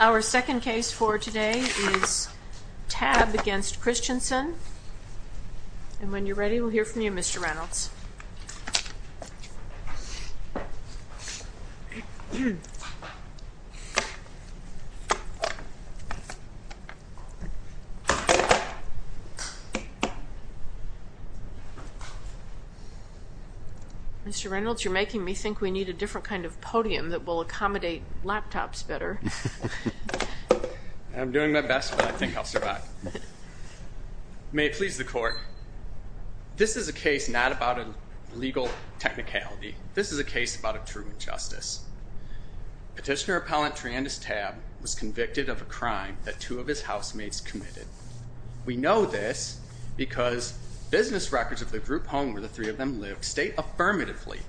Our second case for today is Tabb v. Christianson, and when you're ready, we'll hear from you Mr. Reynolds. Mr. Reynolds, you're making me think we need a different kind of podium that will accommodate laptops better. I'm doing my best, but I think I'll survive. May it please the court, this is a case not about a legal technicality. This is a case about a true injustice. Petitioner appellant Triandus Tabb was convicted of a crime that two of his housemates committed. We know this because business records of the group home where the three of them lived state affirmatively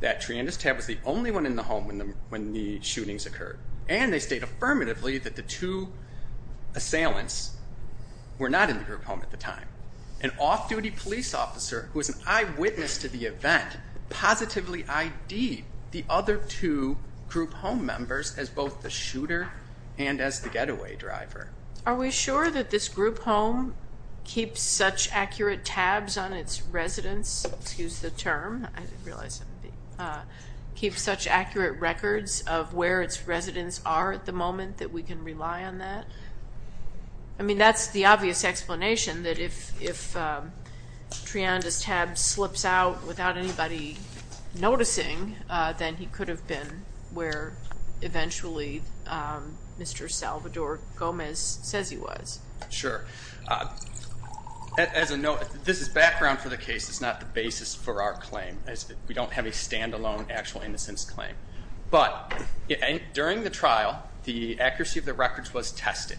that Triandus Tabb was the only one in the home when the shootings occurred. And they state affirmatively that the two assailants were not in the group home at the time. An off-duty police officer who was an eyewitness to the event positively ID'd the other two group home members as both the shooter and as the getaway driver. Are we sure that this group home keeps such accurate tabs on its residents, excuse the term, keeps such accurate records of where its residents are at the moment that we can rely on that? I mean, that's the obvious explanation that if Triandus Tabb slips out without anybody noticing, then he could have been where eventually Mr. Salvador Gomez says he was. Sure. As a note, this is background for the case, it's not the basis for our claim. We don't have a stand-alone actual innocence claim. But during the trial, the accuracy of the records was tested.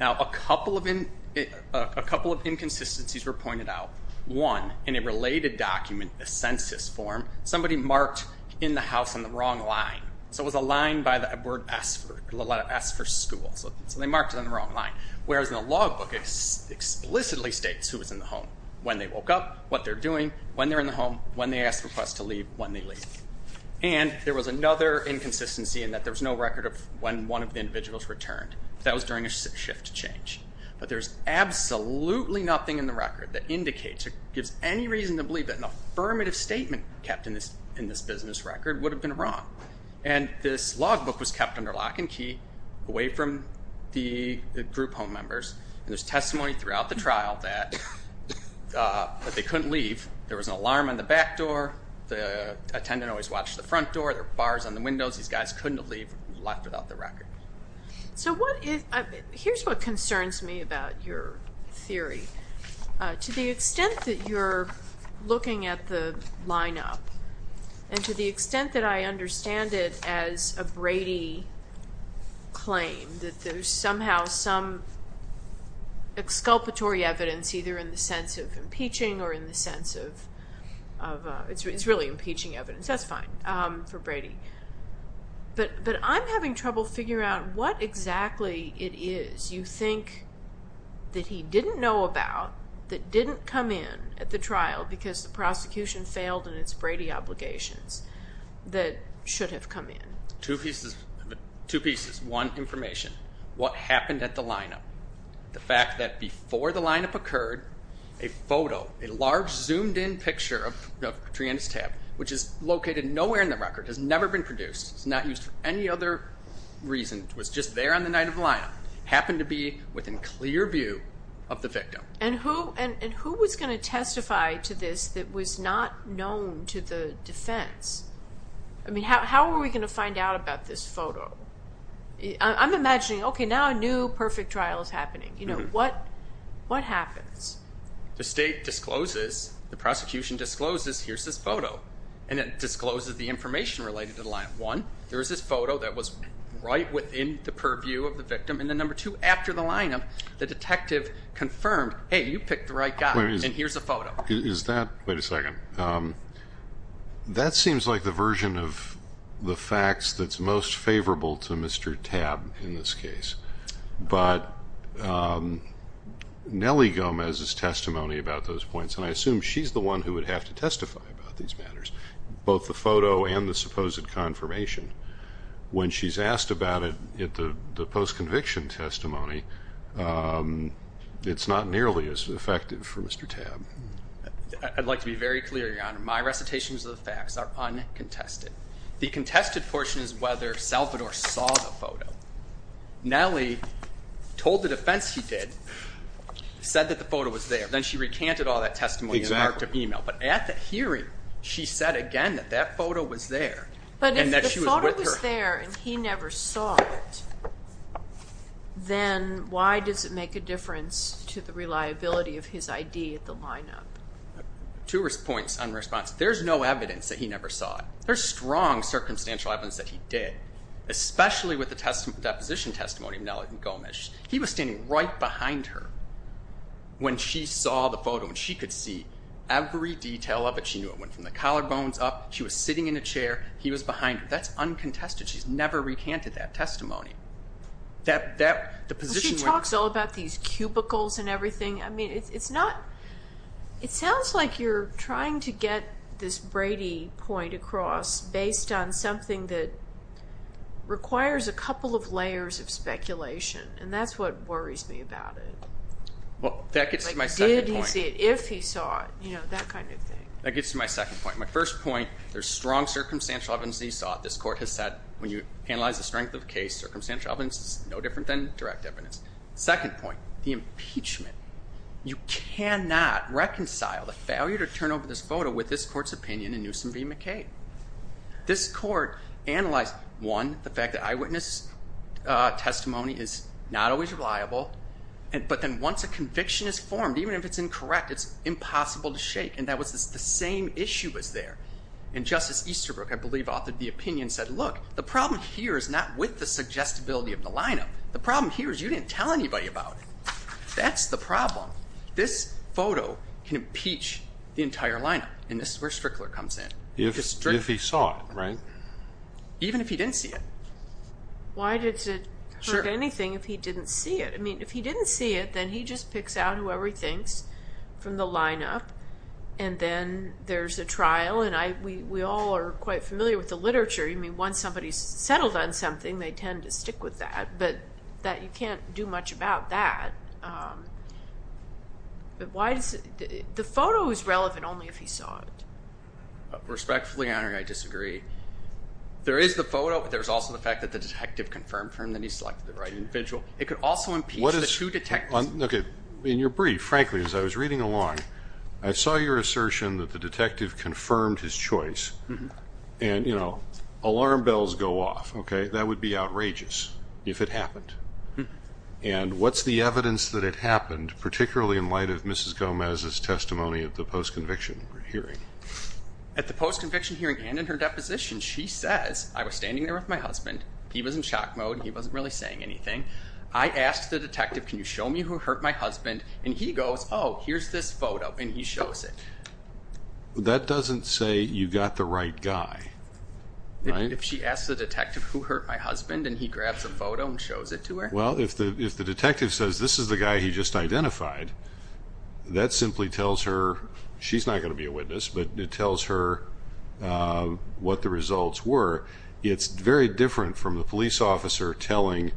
Now, a couple of inconsistencies were pointed out. One, in a related document, a census form, somebody marked in the house on the wrong line. So it was a line by the letter S for school. So they marked it on the wrong line. Whereas in the logbook, it explicitly states who was in the home, when they woke up, what they're doing, when they're in the home, when they asked for us to leave, when they leave. And there was another inconsistency in that there was no record of when one of the individuals returned. That was during a shift change. But there's absolutely nothing in the record that indicates or gives any reason to believe that an affirmative statement kept in this business record would have been wrong. And this logbook was kept under lock and key, away from the group home members. And there's testimony throughout the trial that they couldn't leave. There was an alarm on the back door. The attendant always watched the front door. There were bars on the windows. These guys couldn't have left without the record. So here's what concerns me about your theory. To the extent that you're looking at the lineup, and to the extent that I understand it as a Brady claim, that there's somehow some exculpatory evidence, either in the sense of impeaching or in the sense of, it's really impeaching evidence. That's fine for Brady. But I'm having trouble figuring out what exactly it is you think that he didn't know about. That didn't come in at the trial because the prosecution failed in its Brady obligations. That should have come in. Two pieces. One, information. What happened at the lineup. The fact that before the lineup occurred, a photo, a large zoomed-in picture of Triana's tab, which is located nowhere in the record, has never been produced. It's not used for any other reason. It was just there on the night of the lineup. Happened to be within clear view of the victim. And who was going to testify to this that was not known to the defense? I mean, how are we going to find out about this photo? I'm imagining, okay, now a new perfect trial is happening. What happens? The state discloses, the prosecution discloses, here's this photo. And it discloses the information related to the lineup. One, there is this photo that was right within the purview of the victim. And then, number two, after the lineup, the detective confirmed, hey, you picked the right guy, and here's the photo. Is that, wait a second, that seems like the version of the facts that's most favorable to Mr. Tabb in this case. But Nellie Gomez's testimony about those points, and I assume she's the one who would have to testify about these matters, both the photo and the supposed confirmation. When she's asked about it at the post-conviction testimony, it's not nearly as effective for Mr. Tabb. I'd like to be very clear, Your Honor. My recitations of the facts are uncontested. The contested portion is whether Salvador saw the photo. Nellie told the defense she did, said that the photo was there. Then she recanted all that testimony and marked her email. But at the hearing, she said again that that photo was there and that she was with her. But if the photo was there and he never saw it, then why does it make a difference to the reliability of his ID at the lineup? Two points on response. There's no evidence that he never saw it. There's strong circumstantial evidence that he did, especially with the deposition testimony of Nellie Gomez. He was standing right behind her when she saw the photo and she could see every detail of it. She knew it went from the collarbones up. She was sitting in a chair. He was behind her. That's uncontested. She's never recanted that testimony. She talks all about these cubicles and everything. I mean, it's not – it sounds like you're trying to get this Brady point across based on something that requires a couple of layers of speculation. And that's what worries me about it. Well, that gets to my second point. Did he see it? If he saw it? That kind of thing. That gets to my second point. My first point, there's strong circumstantial evidence that he saw it. This court has said when you analyze the strength of the case, circumstantial evidence is no different than direct evidence. Second point, the impeachment. You cannot reconcile the failure to turn over this photo with this court's opinion in Newsom v. McCain. This court analyzed, one, the fact that eyewitness testimony is not always reliable. But then once a conviction is formed, even if it's incorrect, it's impossible to shake. And that was the same issue as there. And Justice Easterbrook, I believe, authored the opinion and said, look, the problem here is not with the suggestibility of the lineup. The problem here is you didn't tell anybody about it. That's the problem. This photo can impeach the entire lineup. And this is where Strickler comes in. If he saw it, right? Even if he didn't see it. Why does it hurt anything if he didn't see it? I mean, if he didn't see it, then he just picks out whoever he thinks from the lineup. And then there's a trial. And we all are quite familiar with the literature. I mean, once somebody's settled on something, they tend to stick with that. But you can't do much about that. The photo is relevant only if he saw it. Respectfully, Your Honor, I disagree. There is the photo, but there's also the fact that the detective confirmed for him that he selected the right individual. It could also impeach the two detectives. Okay. In your brief, frankly, as I was reading along, I saw your assertion that the detective confirmed his choice. And, you know, alarm bells go off, okay? That would be outrageous if it happened. And what's the evidence that it happened, particularly in light of Mrs. Gomez's testimony of the post-conviction hearing? At the post-conviction hearing and in her deposition, she says, I was standing there with my husband. He was in shock mode. He wasn't really saying anything. I asked the detective, can you show me who hurt my husband? And he goes, oh, here's this photo. And he shows it. That doesn't say you got the right guy, right? Wait, if she asks the detective who hurt my husband and he grabs a photo and shows it to her? Well, if the detective says this is the guy he just identified, that simply tells her she's not going to be a witness, but it tells her what the results were. It's very different from the police officer telling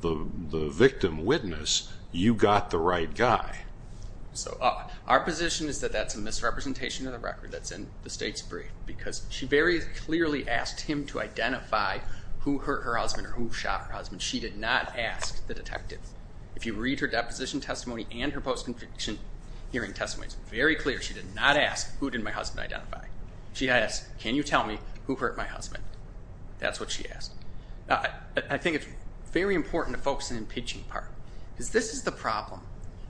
the victim witness, you got the right guy. So our position is that that's a misrepresentation of the record that's in the state's brief, because she very clearly asked him to identify who hurt her husband or who shot her husband. She did not ask the detective. If you read her deposition testimony and her post-conviction hearing testimony, it's very clear she did not ask who did my husband identify. She asked, can you tell me who hurt my husband? That's what she asked. I think it's very important to focus on the pitching part, because this is the problem.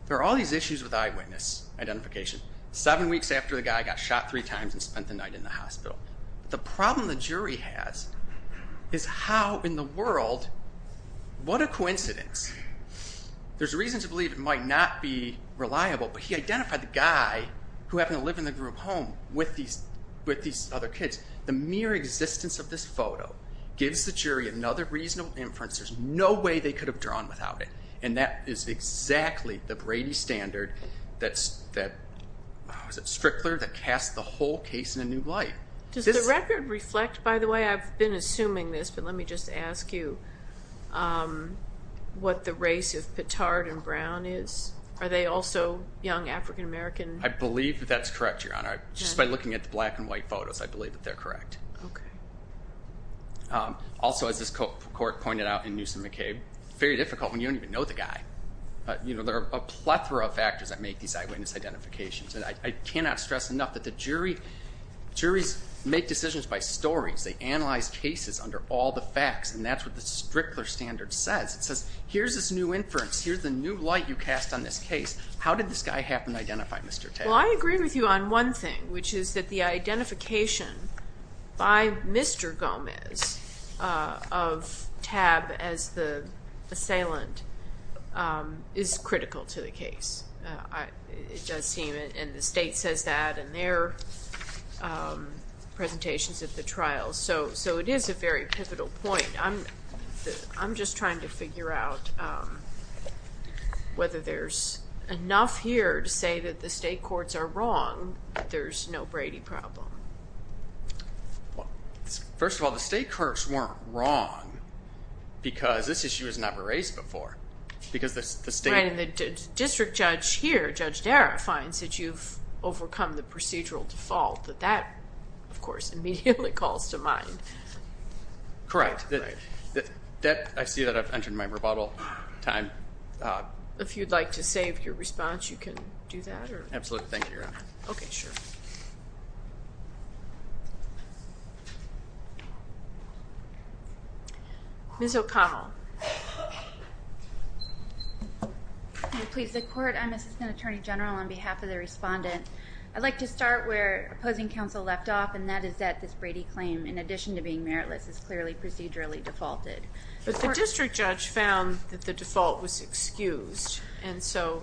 There are all these issues with eyewitness identification. Seven weeks after the guy got shot three times and spent the night in the hospital. The problem the jury has is how in the world, what a coincidence. There's a reason to believe it might not be reliable, but he identified the guy who happened to live in the group home with these other kids. The mere existence of this photo gives the jury another reasonable inference. There's no way they could have drawn without it. And that is exactly the Brady standard that, is it Strickler, that casts the whole case in a new light. Does the record reflect, by the way, I've been assuming this, but let me just ask you what the race of Pittard and Brown is? Are they also young African-American? I believe that that's correct, Your Honor. Just by looking at the black and white photos, I believe that they're correct. Also, as this court pointed out in Newsom McCabe, it's very difficult when you don't even know the guy. There are a plethora of factors that make these eyewitness identifications, and I cannot stress enough that the juries make decisions by stories. They analyze cases under all the facts, and that's what the Strickler standard says. It says here's this new inference, here's the new light you cast on this case. How did this guy happen to identify Mr. Tab? Well, I agree with you on one thing, which is that the identification by Mr. Gomez of Tab as the assailant is critical to the case. It does seem, and the state says that in their presentations at the trial, so it is a very pivotal point. I'm just trying to figure out whether there's enough here to say that the state courts are wrong, that there's no Brady problem. First of all, the state courts weren't wrong because this issue was never raised before. The district judge here, Judge Dara, finds that you've overcome the procedural default. That, of course, immediately calls to mind. Correct. I see that I've entered my rebuttal time. If you'd like to save your response, you can do that. Absolutely. Thank you, Your Honor. Okay, sure. Ms. O'Connell. Please, the court, I'm Assistant Attorney General on behalf of the respondent. I'd like to start where opposing counsel left off, and that is that this Brady claim, in addition to being meritless, is clearly procedurally defaulted. But the district judge found that the default was excused, and so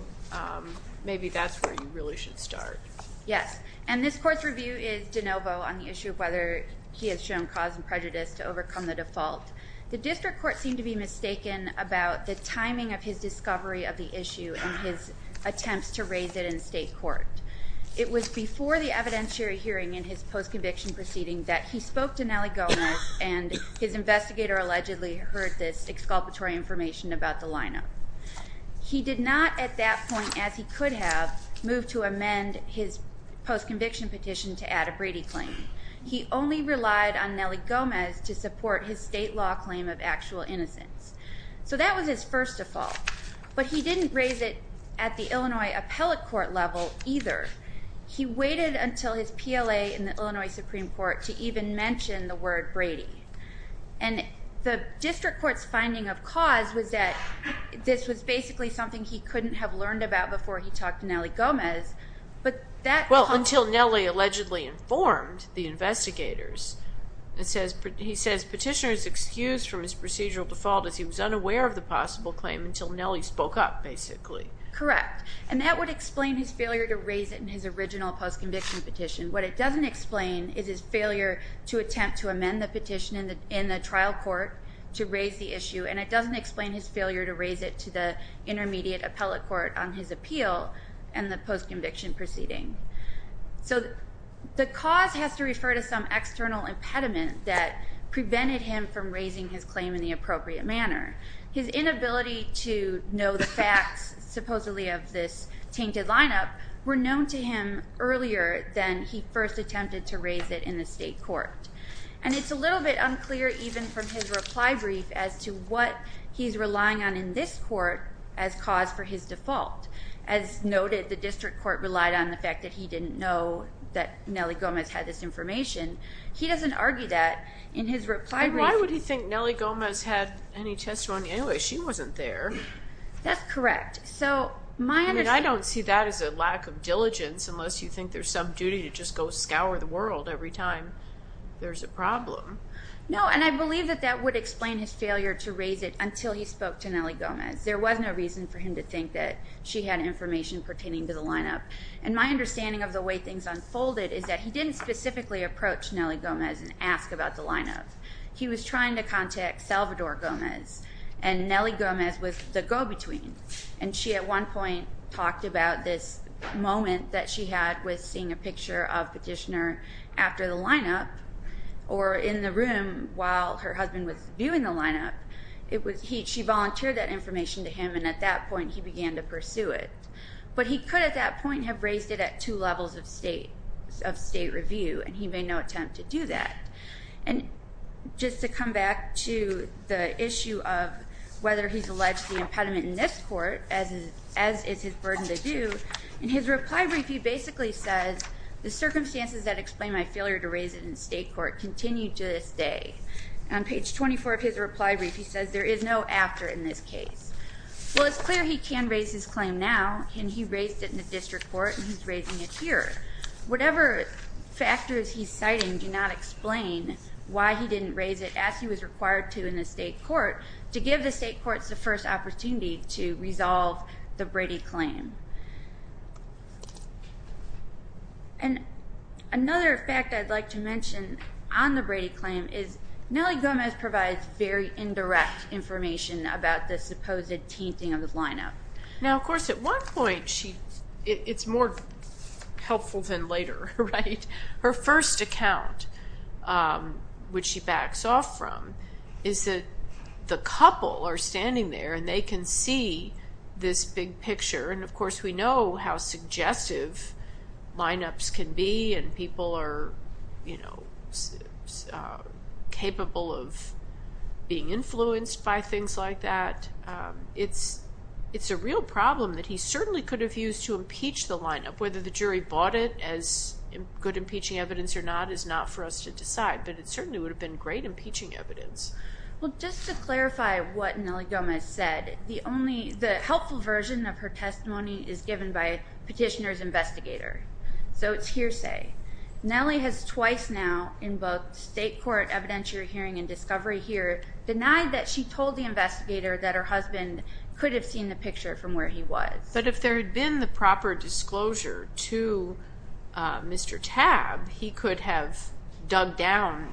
maybe that's where you really should start. Yes, and this court's review is de novo on the issue of whether he has shown cause and prejudice to overcome the default. The district court seemed to be mistaken about the timing of his discovery of the issue and his attempts to raise it in state court. It was before the evidentiary hearing in his post-conviction proceeding that he spoke to Nelly Gomez, and his investigator allegedly heard this exculpatory information about the lineup. He did not at that point, as he could have, move to amend his post-conviction petition to add a Brady claim. He only relied on Nelly Gomez to support his state law claim of actual innocence. So that was his first default. But he didn't raise it at the Illinois appellate court level either. He waited until his PLA in the Illinois Supreme Court to even mention the word Brady. And the district court's finding of cause was that this was basically something he couldn't have learned about before he talked to Nelly Gomez. Well, until Nelly allegedly informed the investigators. He says petitioner is excused from his procedural default as he was unaware of the possible claim until Nelly spoke up, basically. Correct. And that would explain his failure to raise it in his original post-conviction petition. What it doesn't explain is his failure to attempt to amend the petition in the trial court to raise the issue. And it doesn't explain his failure to raise it to the intermediate appellate court on his appeal and the post-conviction proceeding. So the cause has to refer to some external impediment that prevented him from raising his claim in the appropriate manner. His inability to know the facts supposedly of this tainted lineup were known to him earlier than he first attempted to raise it in the state court. And it's a little bit unclear even from his reply brief as to what he's relying on in this court as cause for his default. As noted, the district court relied on the fact that he didn't know that Nelly Gomez had this information. He doesn't argue that. But why would he think Nelly Gomez had any testimony? Anyway, she wasn't there. That's correct. I mean, I don't see that as a lack of diligence unless you think there's some duty to just go scour the world every time there's a problem. No, and I believe that that would explain his failure to raise it until he spoke to Nelly Gomez. There was no reason for him to think that she had information pertaining to the lineup. And my understanding of the way things unfolded is that he didn't specifically approach Nelly Gomez and ask about the lineup. He was trying to contact Salvador Gomez, and Nelly Gomez was the go-between. And she at one point talked about this moment that she had with seeing a picture of Petitioner after the lineup or in the room while her husband was viewing the lineup. She volunteered that information to him, and at that point he began to pursue it. But he could at that point have raised it at two levels of state review, and he made no attempt to do that. And just to come back to the issue of whether he's alleged the impediment in this court, as is his burden to do, in his reply brief he basically says, the circumstances that explain my failure to raise it in state court continue to this day. On page 24 of his reply brief he says, there is no after in this case. Well, it's clear he can raise his claim now, and he raised it in the district court, and he's raising it here. Whatever factors he's citing do not explain why he didn't raise it as he was required to in the state court to give the state courts the first opportunity to resolve the Brady claim. And another fact I'd like to mention on the Brady claim is Nellie Gomez provides very indirect information about the supposed tainting of the lineup. Now, of course, at one point it's more helpful than later, right? Her first account, which she backs off from, is that the couple are standing there and they can see this big picture. And, of course, we know how suggestive lineups can be, and people are, you know, capable of being influenced by things like that. It's a real problem that he certainly could have used to impeach the lineup. Whether the jury bought it as good impeaching evidence or not is not for us to decide, but it certainly would have been great impeaching evidence. Well, just to clarify what Nellie Gomez said, the helpful version of her testimony is given by a petitioner's investigator, so it's hearsay. Nellie has twice now in both state court evidentiary hearing and discovery here denied that she told the investigator that her husband could have seen the picture from where he was. But if there had been the proper disclosure to Mr. Tabb, he could have dug down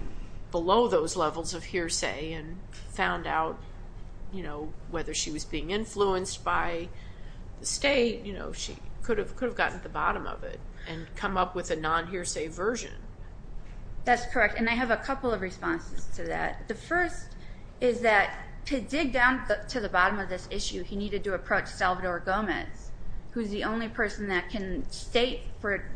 below those levels of hearsay and found out, you know, whether she was being influenced by the state. You know, she could have gotten to the bottom of it and come up with a non-hearsay version. That's correct, and I have a couple of responses to that. The first is that to dig down to the bottom of this issue, he needed to approach Salvador Gomez, who's the only person that can state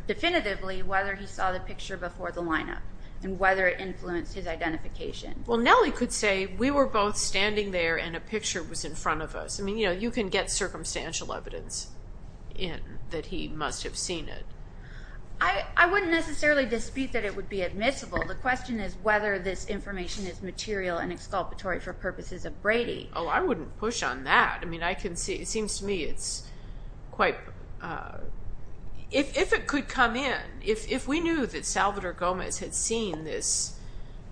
definitively whether he saw the picture before the lineup and whether it influenced his identification. Well, Nellie could say, we were both standing there and a picture was in front of us. I mean, you know, you can get circumstantial evidence in that he must have seen it. I wouldn't necessarily dispute that it would be admissible. The question is whether this information is material and exculpatory for purposes of Brady. Oh, I wouldn't push on that. I mean, I can see, it seems to me it's quite, if it could come in, if we knew that Salvador Gomez had seen this,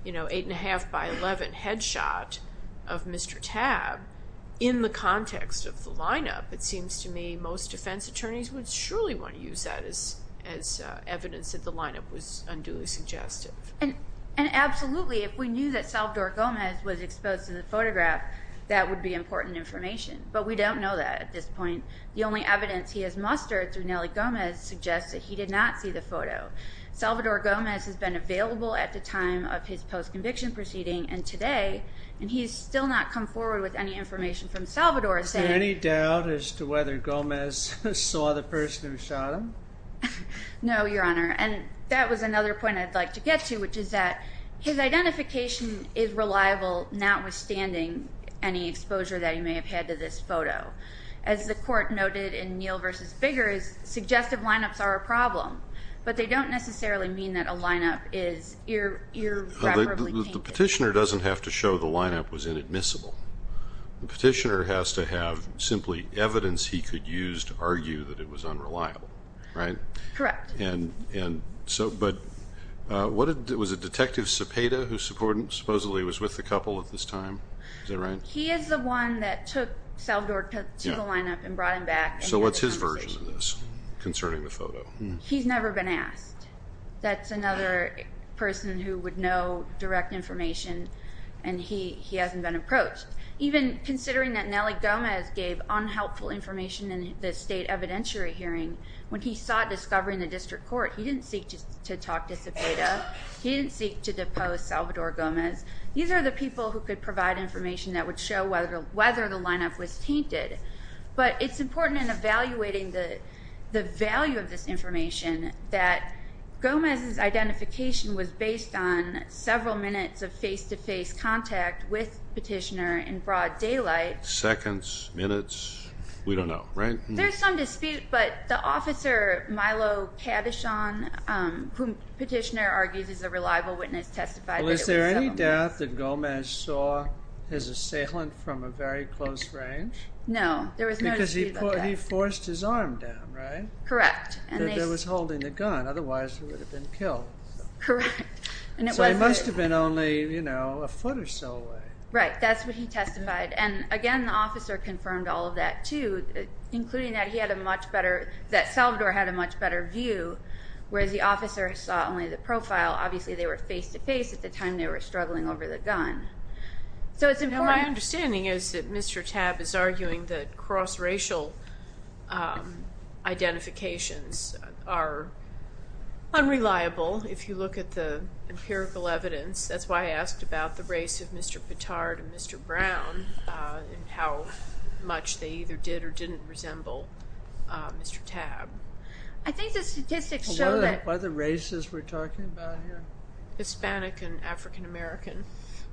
you know, 8 1⁄2 by 11 headshot of Mr. Tabb in the context of the lineup, it seems to me most defense attorneys would surely want to use that as evidence that the lineup was unduly suggestive. And absolutely, if we knew that Salvador Gomez was exposed to the photograph, that would be important information. But we don't know that at this point. The only evidence he has mustered through Nellie Gomez suggests that he did not see the photo. Salvador Gomez has been available at the time of his post-conviction proceeding and today, and he's still not come forward with any information from Salvador. Is there any doubt as to whether Gomez saw the person who shot him? No, Your Honor. And that was another point I'd like to get to, which is that his identification is reliable notwithstanding any exposure that he may have had to this photo. As the court noted in Neal v. Biggers, suggestive lineups are a problem. But they don't necessarily mean that a lineup is irreparably tainted. The petitioner doesn't have to show the lineup was inadmissible. The petitioner has to have simply evidence he could use to argue that it was unreliable, right? Correct. But was it Detective Cepeda who supposedly was with the couple at this time? Is that right? He is the one that took Salvador to the lineup and brought him back. So what's his version of this concerning the photo? He's never been asked. That's another person who would know direct information, and he hasn't been approached. Even considering that Nelly Gomez gave unhelpful information in the state evidentiary hearing, when he sought discovery in the district court, he didn't seek to talk to Cepeda. He didn't seek to depose Salvador Gomez. These are the people who could provide information that would show whether the lineup was tainted. But it's important in evaluating the value of this information that Gomez's identification was based on several minutes of face-to-face contact with the petitioner in broad daylight. Seconds? Minutes? We don't know, right? There's some dispute, but the officer Milo Cadishon, whom the petitioner argues is a reliable witness, testified that it was Salvador. Is there any doubt that Gomez saw his assailant from a very close range? No, there was no dispute about that. Because he forced his arm down, right? Correct. That was holding the gun, otherwise he would have been killed. Correct. So he must have been only a foot or so away. Right, that's what he testified. And, again, the officer confirmed all of that, too, including that Salvador had a much better view, whereas the officer saw only the profile. Obviously, they were face-to-face at the time they were struggling over the gun. My understanding is that Mr. Tabb is arguing that cross-racial identifications are unreliable if you look at the empirical evidence. That's why I asked about the race of Mr. Pittard and Mr. Brown and how much they either did or didn't resemble Mr. Tabb. I think the statistics show that... What other races were we talking about here? Hispanic and African American.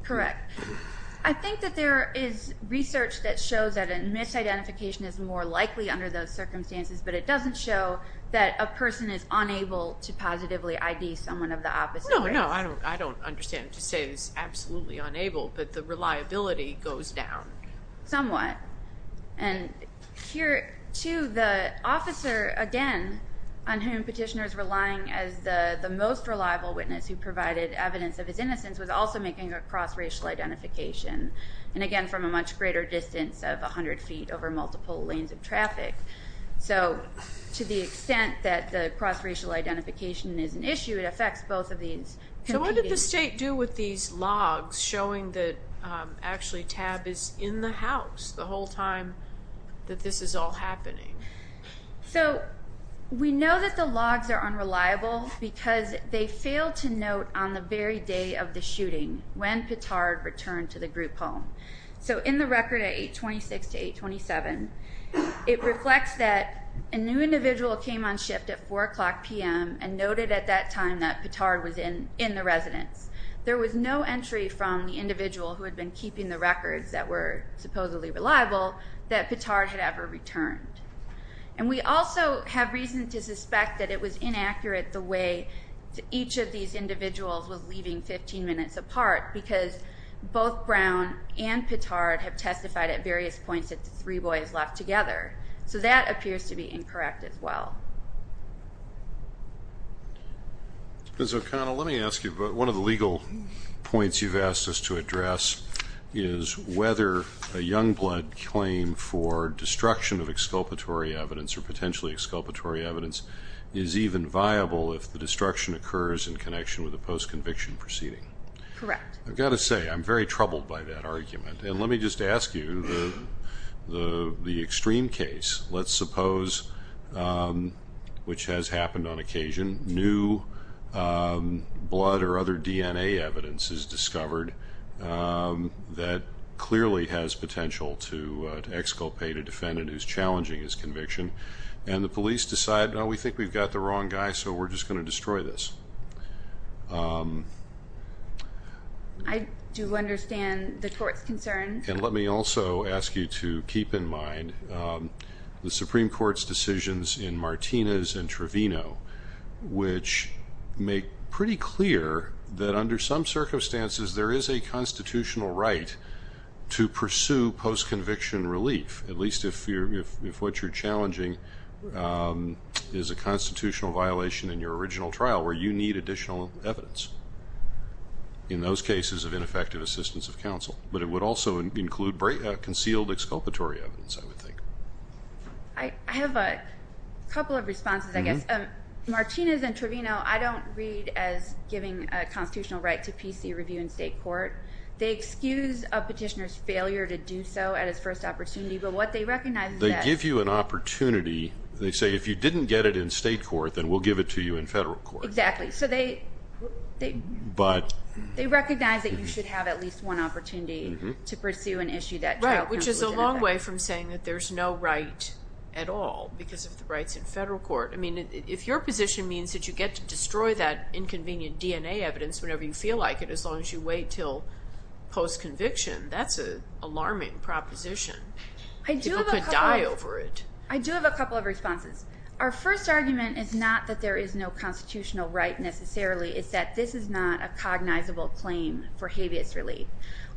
Correct. I think that there is research that shows that a misidentification is more likely under those circumstances, but it doesn't show that a person is unable to positively ID someone of the opposite race. No, no, I don't understand. To say he's absolutely unable, but the reliability goes down. Somewhat. And, here, too, the officer, again, on whom petitioners were relying as the most reliable witness who provided evidence of his innocence, was also making a cross-racial identification, and, again, from a much greater distance of 100 feet over multiple lanes of traffic. So, to the extent that the cross-racial identification is an issue, it affects both of these. So, what did the state do with these logs showing that, actually, Tabb is in the house the whole time that this is all happening? So, we know that the logs are unreliable because they failed to note on the very day of the shooting when Pittard returned to the group home. So, in the record at 826 to 827, it reflects that a new individual came on shift at 4 o'clock p.m. and noted at that time that Pittard was in the residence. There was no entry from the individual who had been keeping the records that were supposedly reliable that Pittard had ever returned. And we also have reason to suspect that it was inaccurate the way each of these individuals was leaving 15 minutes apart because both Brown and Pittard have testified at various points that the three boys left together. So, that appears to be incorrect as well. Ms. O'Connell, let me ask you about one of the legal points you've asked us to address, is whether a youngblood claim for destruction of exculpatory evidence or potentially exculpatory evidence is even viable if the destruction occurs in connection with a post-conviction proceeding. Correct. I've got to say, I'm very troubled by that argument. And let me just ask you, the extreme case, let's suppose, which has happened on occasion, new blood or other DNA evidence is discovered that clearly has potential to exculpate a defendant who's challenging his conviction, and the police decide, no, we think we've got the wrong guy, so we're just going to destroy this. I do understand the court's concern. And let me also ask you to keep in mind the Supreme Court's decisions in Martinez and Trevino, which make pretty clear that under some circumstances there is a constitutional right to pursue post-conviction relief, at least if what you're challenging is a constitutional violation in your original trial, where you need additional evidence in those cases of ineffective assistance of counsel. But it would also include concealed exculpatory evidence, I would think. I have a couple of responses, I guess. Martinez and Trevino I don't read as giving a constitutional right to PC review in state court. They excuse a petitioner's failure to do so at his first opportunity, but what they recognize is that... They give you an opportunity. They say if you didn't get it in state court, then we'll give it to you in federal court. Exactly. But... They recognize that you should have at least one opportunity to pursue an issue that... Right, which is a long way from saying that there's no right at all because of the rights in federal court. I mean, if your position means that you get to destroy that inconvenient DNA evidence whenever you feel like it, as long as you wait until post-conviction, that's an alarming proposition. People could die over it. I do have a couple of responses. Our first argument is not that there is no constitutional right necessarily. It's that this is not a cognizable claim for habeas relief.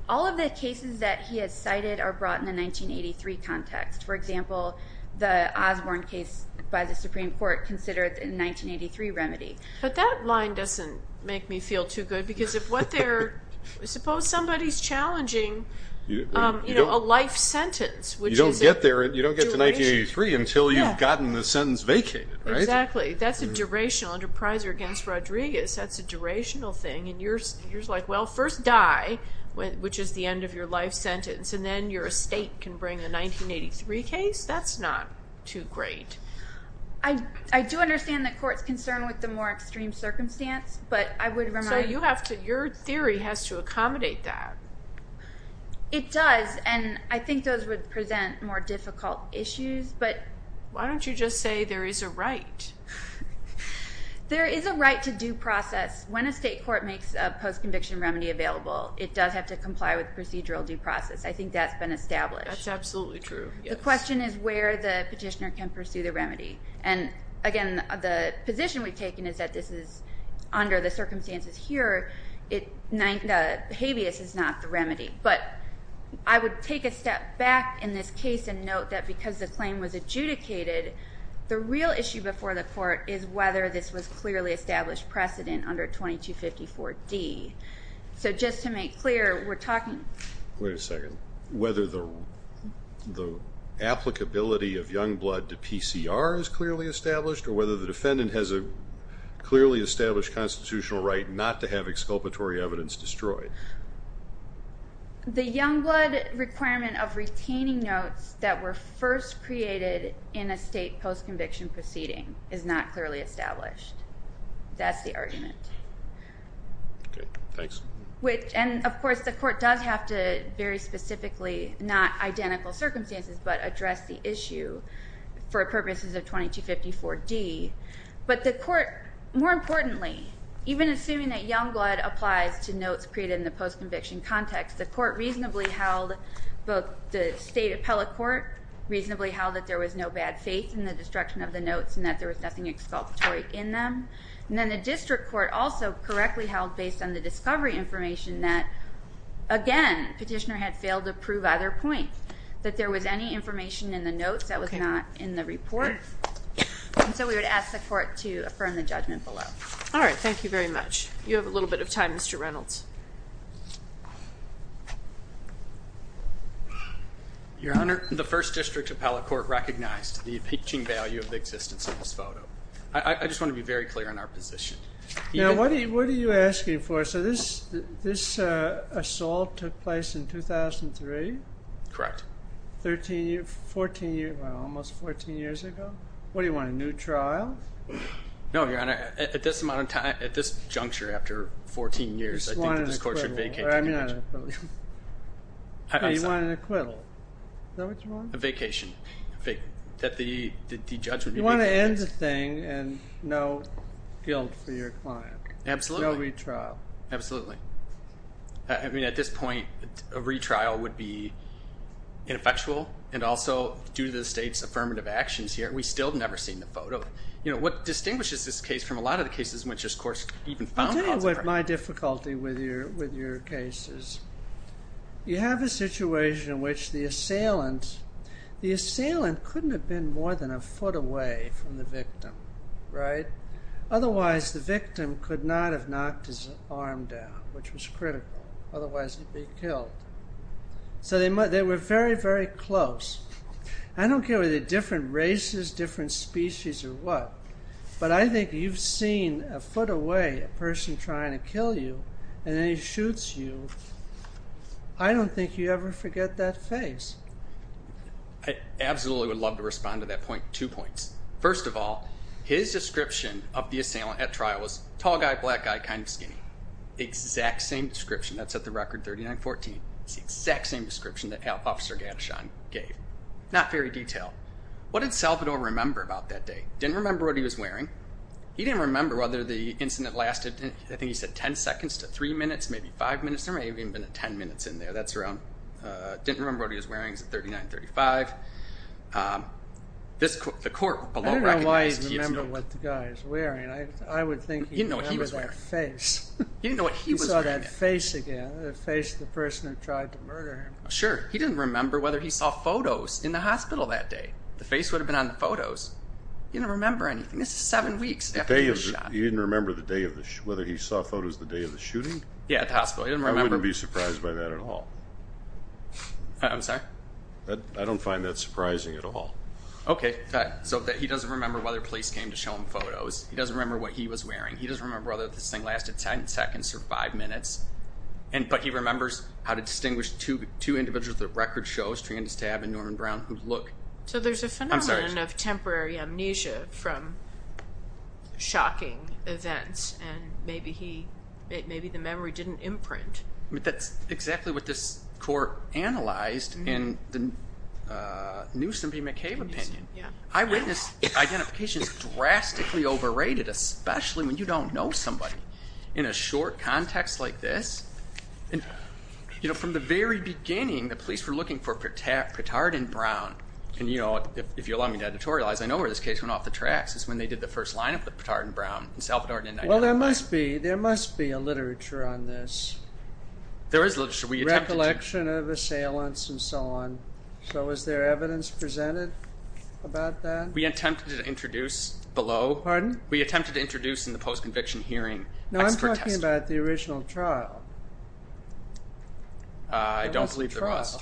All of the cases that he has cited are brought in the 1983 context. For example, the Osborne case by the Supreme Court considered in 1983 remedy. But that line doesn't make me feel too good because if what they're... Suppose somebody's challenging a life sentence, which is a duration. You don't get to 1983 until you've gotten the sentence vacated, right? Exactly. That's a durational. Under Pryor v. Rodriguez, that's a durational thing. You're like, well, first die, which is the end of your life sentence, and then your estate can bring the 1983 case? That's not too great. I do understand the court's concern with the more extreme circumstance, but I would remind... So your theory has to accommodate that. It does, and I think those would present more difficult issues. Why don't you just say there is a right? There is a right to due process. When a state court makes a post-conviction remedy available, it does have to comply with procedural due process. I think that's been established. That's absolutely true, yes. The question is where the petitioner can pursue the remedy. Again, the position we've taken is that this is under the circumstances here. Habeas is not the remedy. But I would take a step back in this case and note that because the claim was adjudicated, the real issue before the court is whether this was clearly established precedent under 2254D. So just to make clear, we're talking... Wait a second. Whether the applicability of young blood to PCR is clearly established or whether the defendant has a clearly established constitutional right not to have exculpatory evidence destroyed. The young blood requirement of retaining notes that were first created in a state post-conviction proceeding is not clearly established. That's the argument. Okay, thanks. And, of course, the court does have to very specifically, not identical circumstances, but address the issue for purposes of 2254D. But the court, more importantly, even assuming that young blood applies to notes created in the post-conviction context, the court reasonably held both the state appellate court reasonably held that there was no bad faith in the destruction of the notes and that there was nothing exculpatory in them. And then the district court also correctly held, based on the discovery information, that, again, petitioner had failed to prove either point, that there was any information in the notes that was not in the report. And so we would ask the court to affirm the judgment below. All right. Thank you very much. You have a little bit of time, Mr. Reynolds. Your Honor, the first district appellate court recognized the impeaching value of the existence of this photo. I just want to be very clear on our position. Now, what are you asking for? So this assault took place in 2003? Correct. 13 years, 14 years, well, almost 14 years ago. What do you want, a new trial? No, Your Honor. At this amount of time, at this juncture, after 14 years, I think that this court should vacate the image. You want an acquittal. Is that what you want? A vacation. You want to end the thing and no guilt for your client. Absolutely. No retrial. Absolutely. I mean, at this point, a retrial would be ineffectual. And also, due to the State's affirmative actions here, we still have never seen the photo. You know, what distinguishes this case from a lot of the cases in which this court even found calls for retrial? I'll tell you what my difficulty with your case is. You have a situation in which the assailant, the assailant couldn't have been more than a foot away from the victim, right? Otherwise, the victim could not have knocked his arm down, which was critical. Otherwise, he'd be killed. So they were very, very close. I don't care whether they're different races, different species or what, but I think you've seen a foot away a person trying to kill you and then he shoots you. I don't think you ever forget that face. I absolutely would love to respond to that point. Two points. First of all, his description of the assailant at trial was tall guy, black guy, kind of skinny. The exact same description. That's at the record 3914. It's the exact same description that Officer Gadishon gave. Not very detailed. What did Salvador remember about that day? Didn't remember what he was wearing. He didn't remember whether the incident lasted, I think he said 10 seconds to 3 minutes, maybe 5 minutes. There may have even been 10 minutes in there. That's around. Didn't remember what he was wearing. It's at 3935. The court below recognized he had smoked. I don't know why he didn't remember what the guy was wearing. I would think he remembered that face. He didn't know what he was wearing. He saw that face again, the face of the person who tried to murder him. Sure. He didn't remember whether he saw photos in the hospital that day. The face would have been on the photos. He didn't remember anything. This is seven weeks after the shot. He didn't remember whether he saw photos the day of the shooting? Yeah, at the hospital. He didn't remember. I wouldn't be surprised by that at all. I'm sorry? I don't find that surprising at all. Okay. So he doesn't remember whether police came to show him photos. He doesn't remember what he was wearing. He doesn't remember whether this thing lasted 10 seconds or 5 minutes. But he remembers how to distinguish two individuals that record shows, Trandis Tabb and Norman Brown, who look. So there's a phenomenon of temporary amnesia from shocking events, and maybe the memory didn't imprint. That's exactly what this court analyzed in the Newsom v. McCabe opinion. Eyewitness identification is drastically overrated, especially when you don't know somebody. In a short context like this, from the very beginning, the police were looking for Petard and Brown. And if you'll allow me to editorialize, I know where this case went off the tracks is when they did the first lineup with Petard and Brown. Well, there must be. There must be a literature on this. There is literature. Recollection of assailants and so on. So was there evidence presented about that? We attempted to introduce below. Pardon? We attempted to introduce in the post-conviction hearing. No, I'm talking about the original trial. I don't believe there was.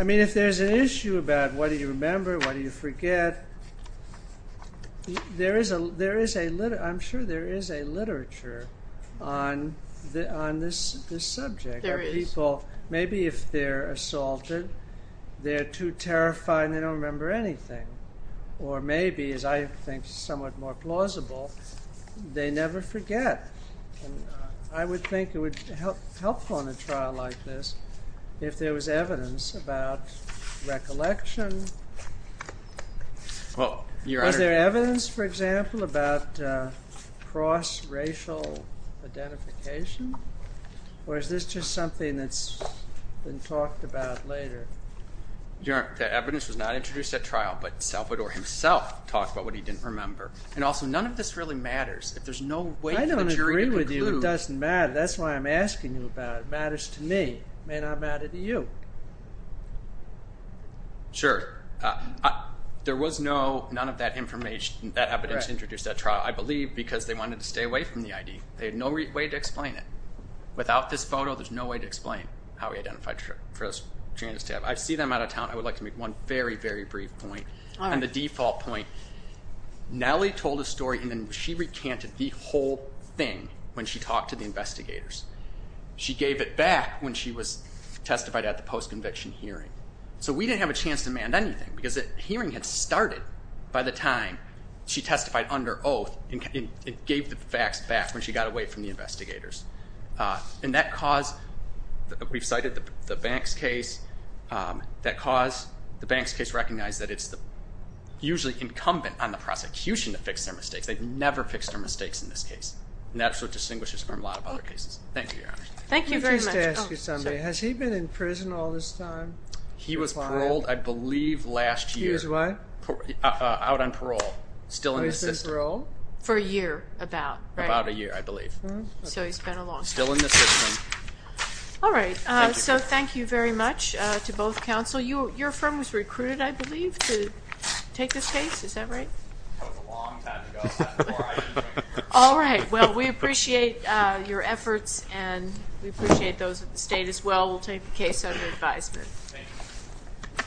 I mean, if there's an issue about what do you remember, what do you forget, I'm sure there is a literature on this subject. There is. Maybe if they're assaulted, they're too terrified, and they don't remember anything. Or maybe, as I think is somewhat more plausible, they never forget. And I would think it would help on a trial like this if there was evidence about recollection. Was there evidence, for example, about cross-racial identification? Or is this just something that's been talked about later? Your Honor, the evidence was not introduced at trial, but Salvador himself talked about what he didn't remember. And also, none of this really matters. If there's no way for the jury to conclude. I don't agree with you. It doesn't matter. That's why I'm asking you about it. It matters to me. It may not matter to you. Sure. There was none of that evidence introduced at trial, I believe, because they wanted to stay away from the ID. They had no way to explain it. Without this photo, there's no way to explain how he identified for us to have. I see them out of town. I would like to make one very, very brief point. All right. I'll make the default point. Nellie told a story, and then she recanted the whole thing when she talked to the investigators. She gave it back when she was testified at the post-conviction hearing. So we didn't have a chance to amend anything, because the hearing had started by the time she testified under oath and gave the facts back when she got away from the investigators. And that caused, we've cited the Banks case, that caused the Banks case to recognize that it's usually incumbent on the prosecution to fix their mistakes. They've never fixed their mistakes in this case, and that's what distinguishes it from a lot of other cases. Thank you, Your Honor. Thank you very much. I used to ask you something. Has he been in prison all this time? He was paroled, I believe, last year. He was what? Out on parole, still in the system. He's been paroled? For a year, about, right? About a year, I believe. So he's been a long time. Still in the system. All right. So thank you very much to both counsel. Your firm was recruited, I believe, to take this case. Is that right? That was a long time ago. All right. Well, we appreciate your efforts, and we appreciate those at the state as well. We'll take the case under advisement. Thank you.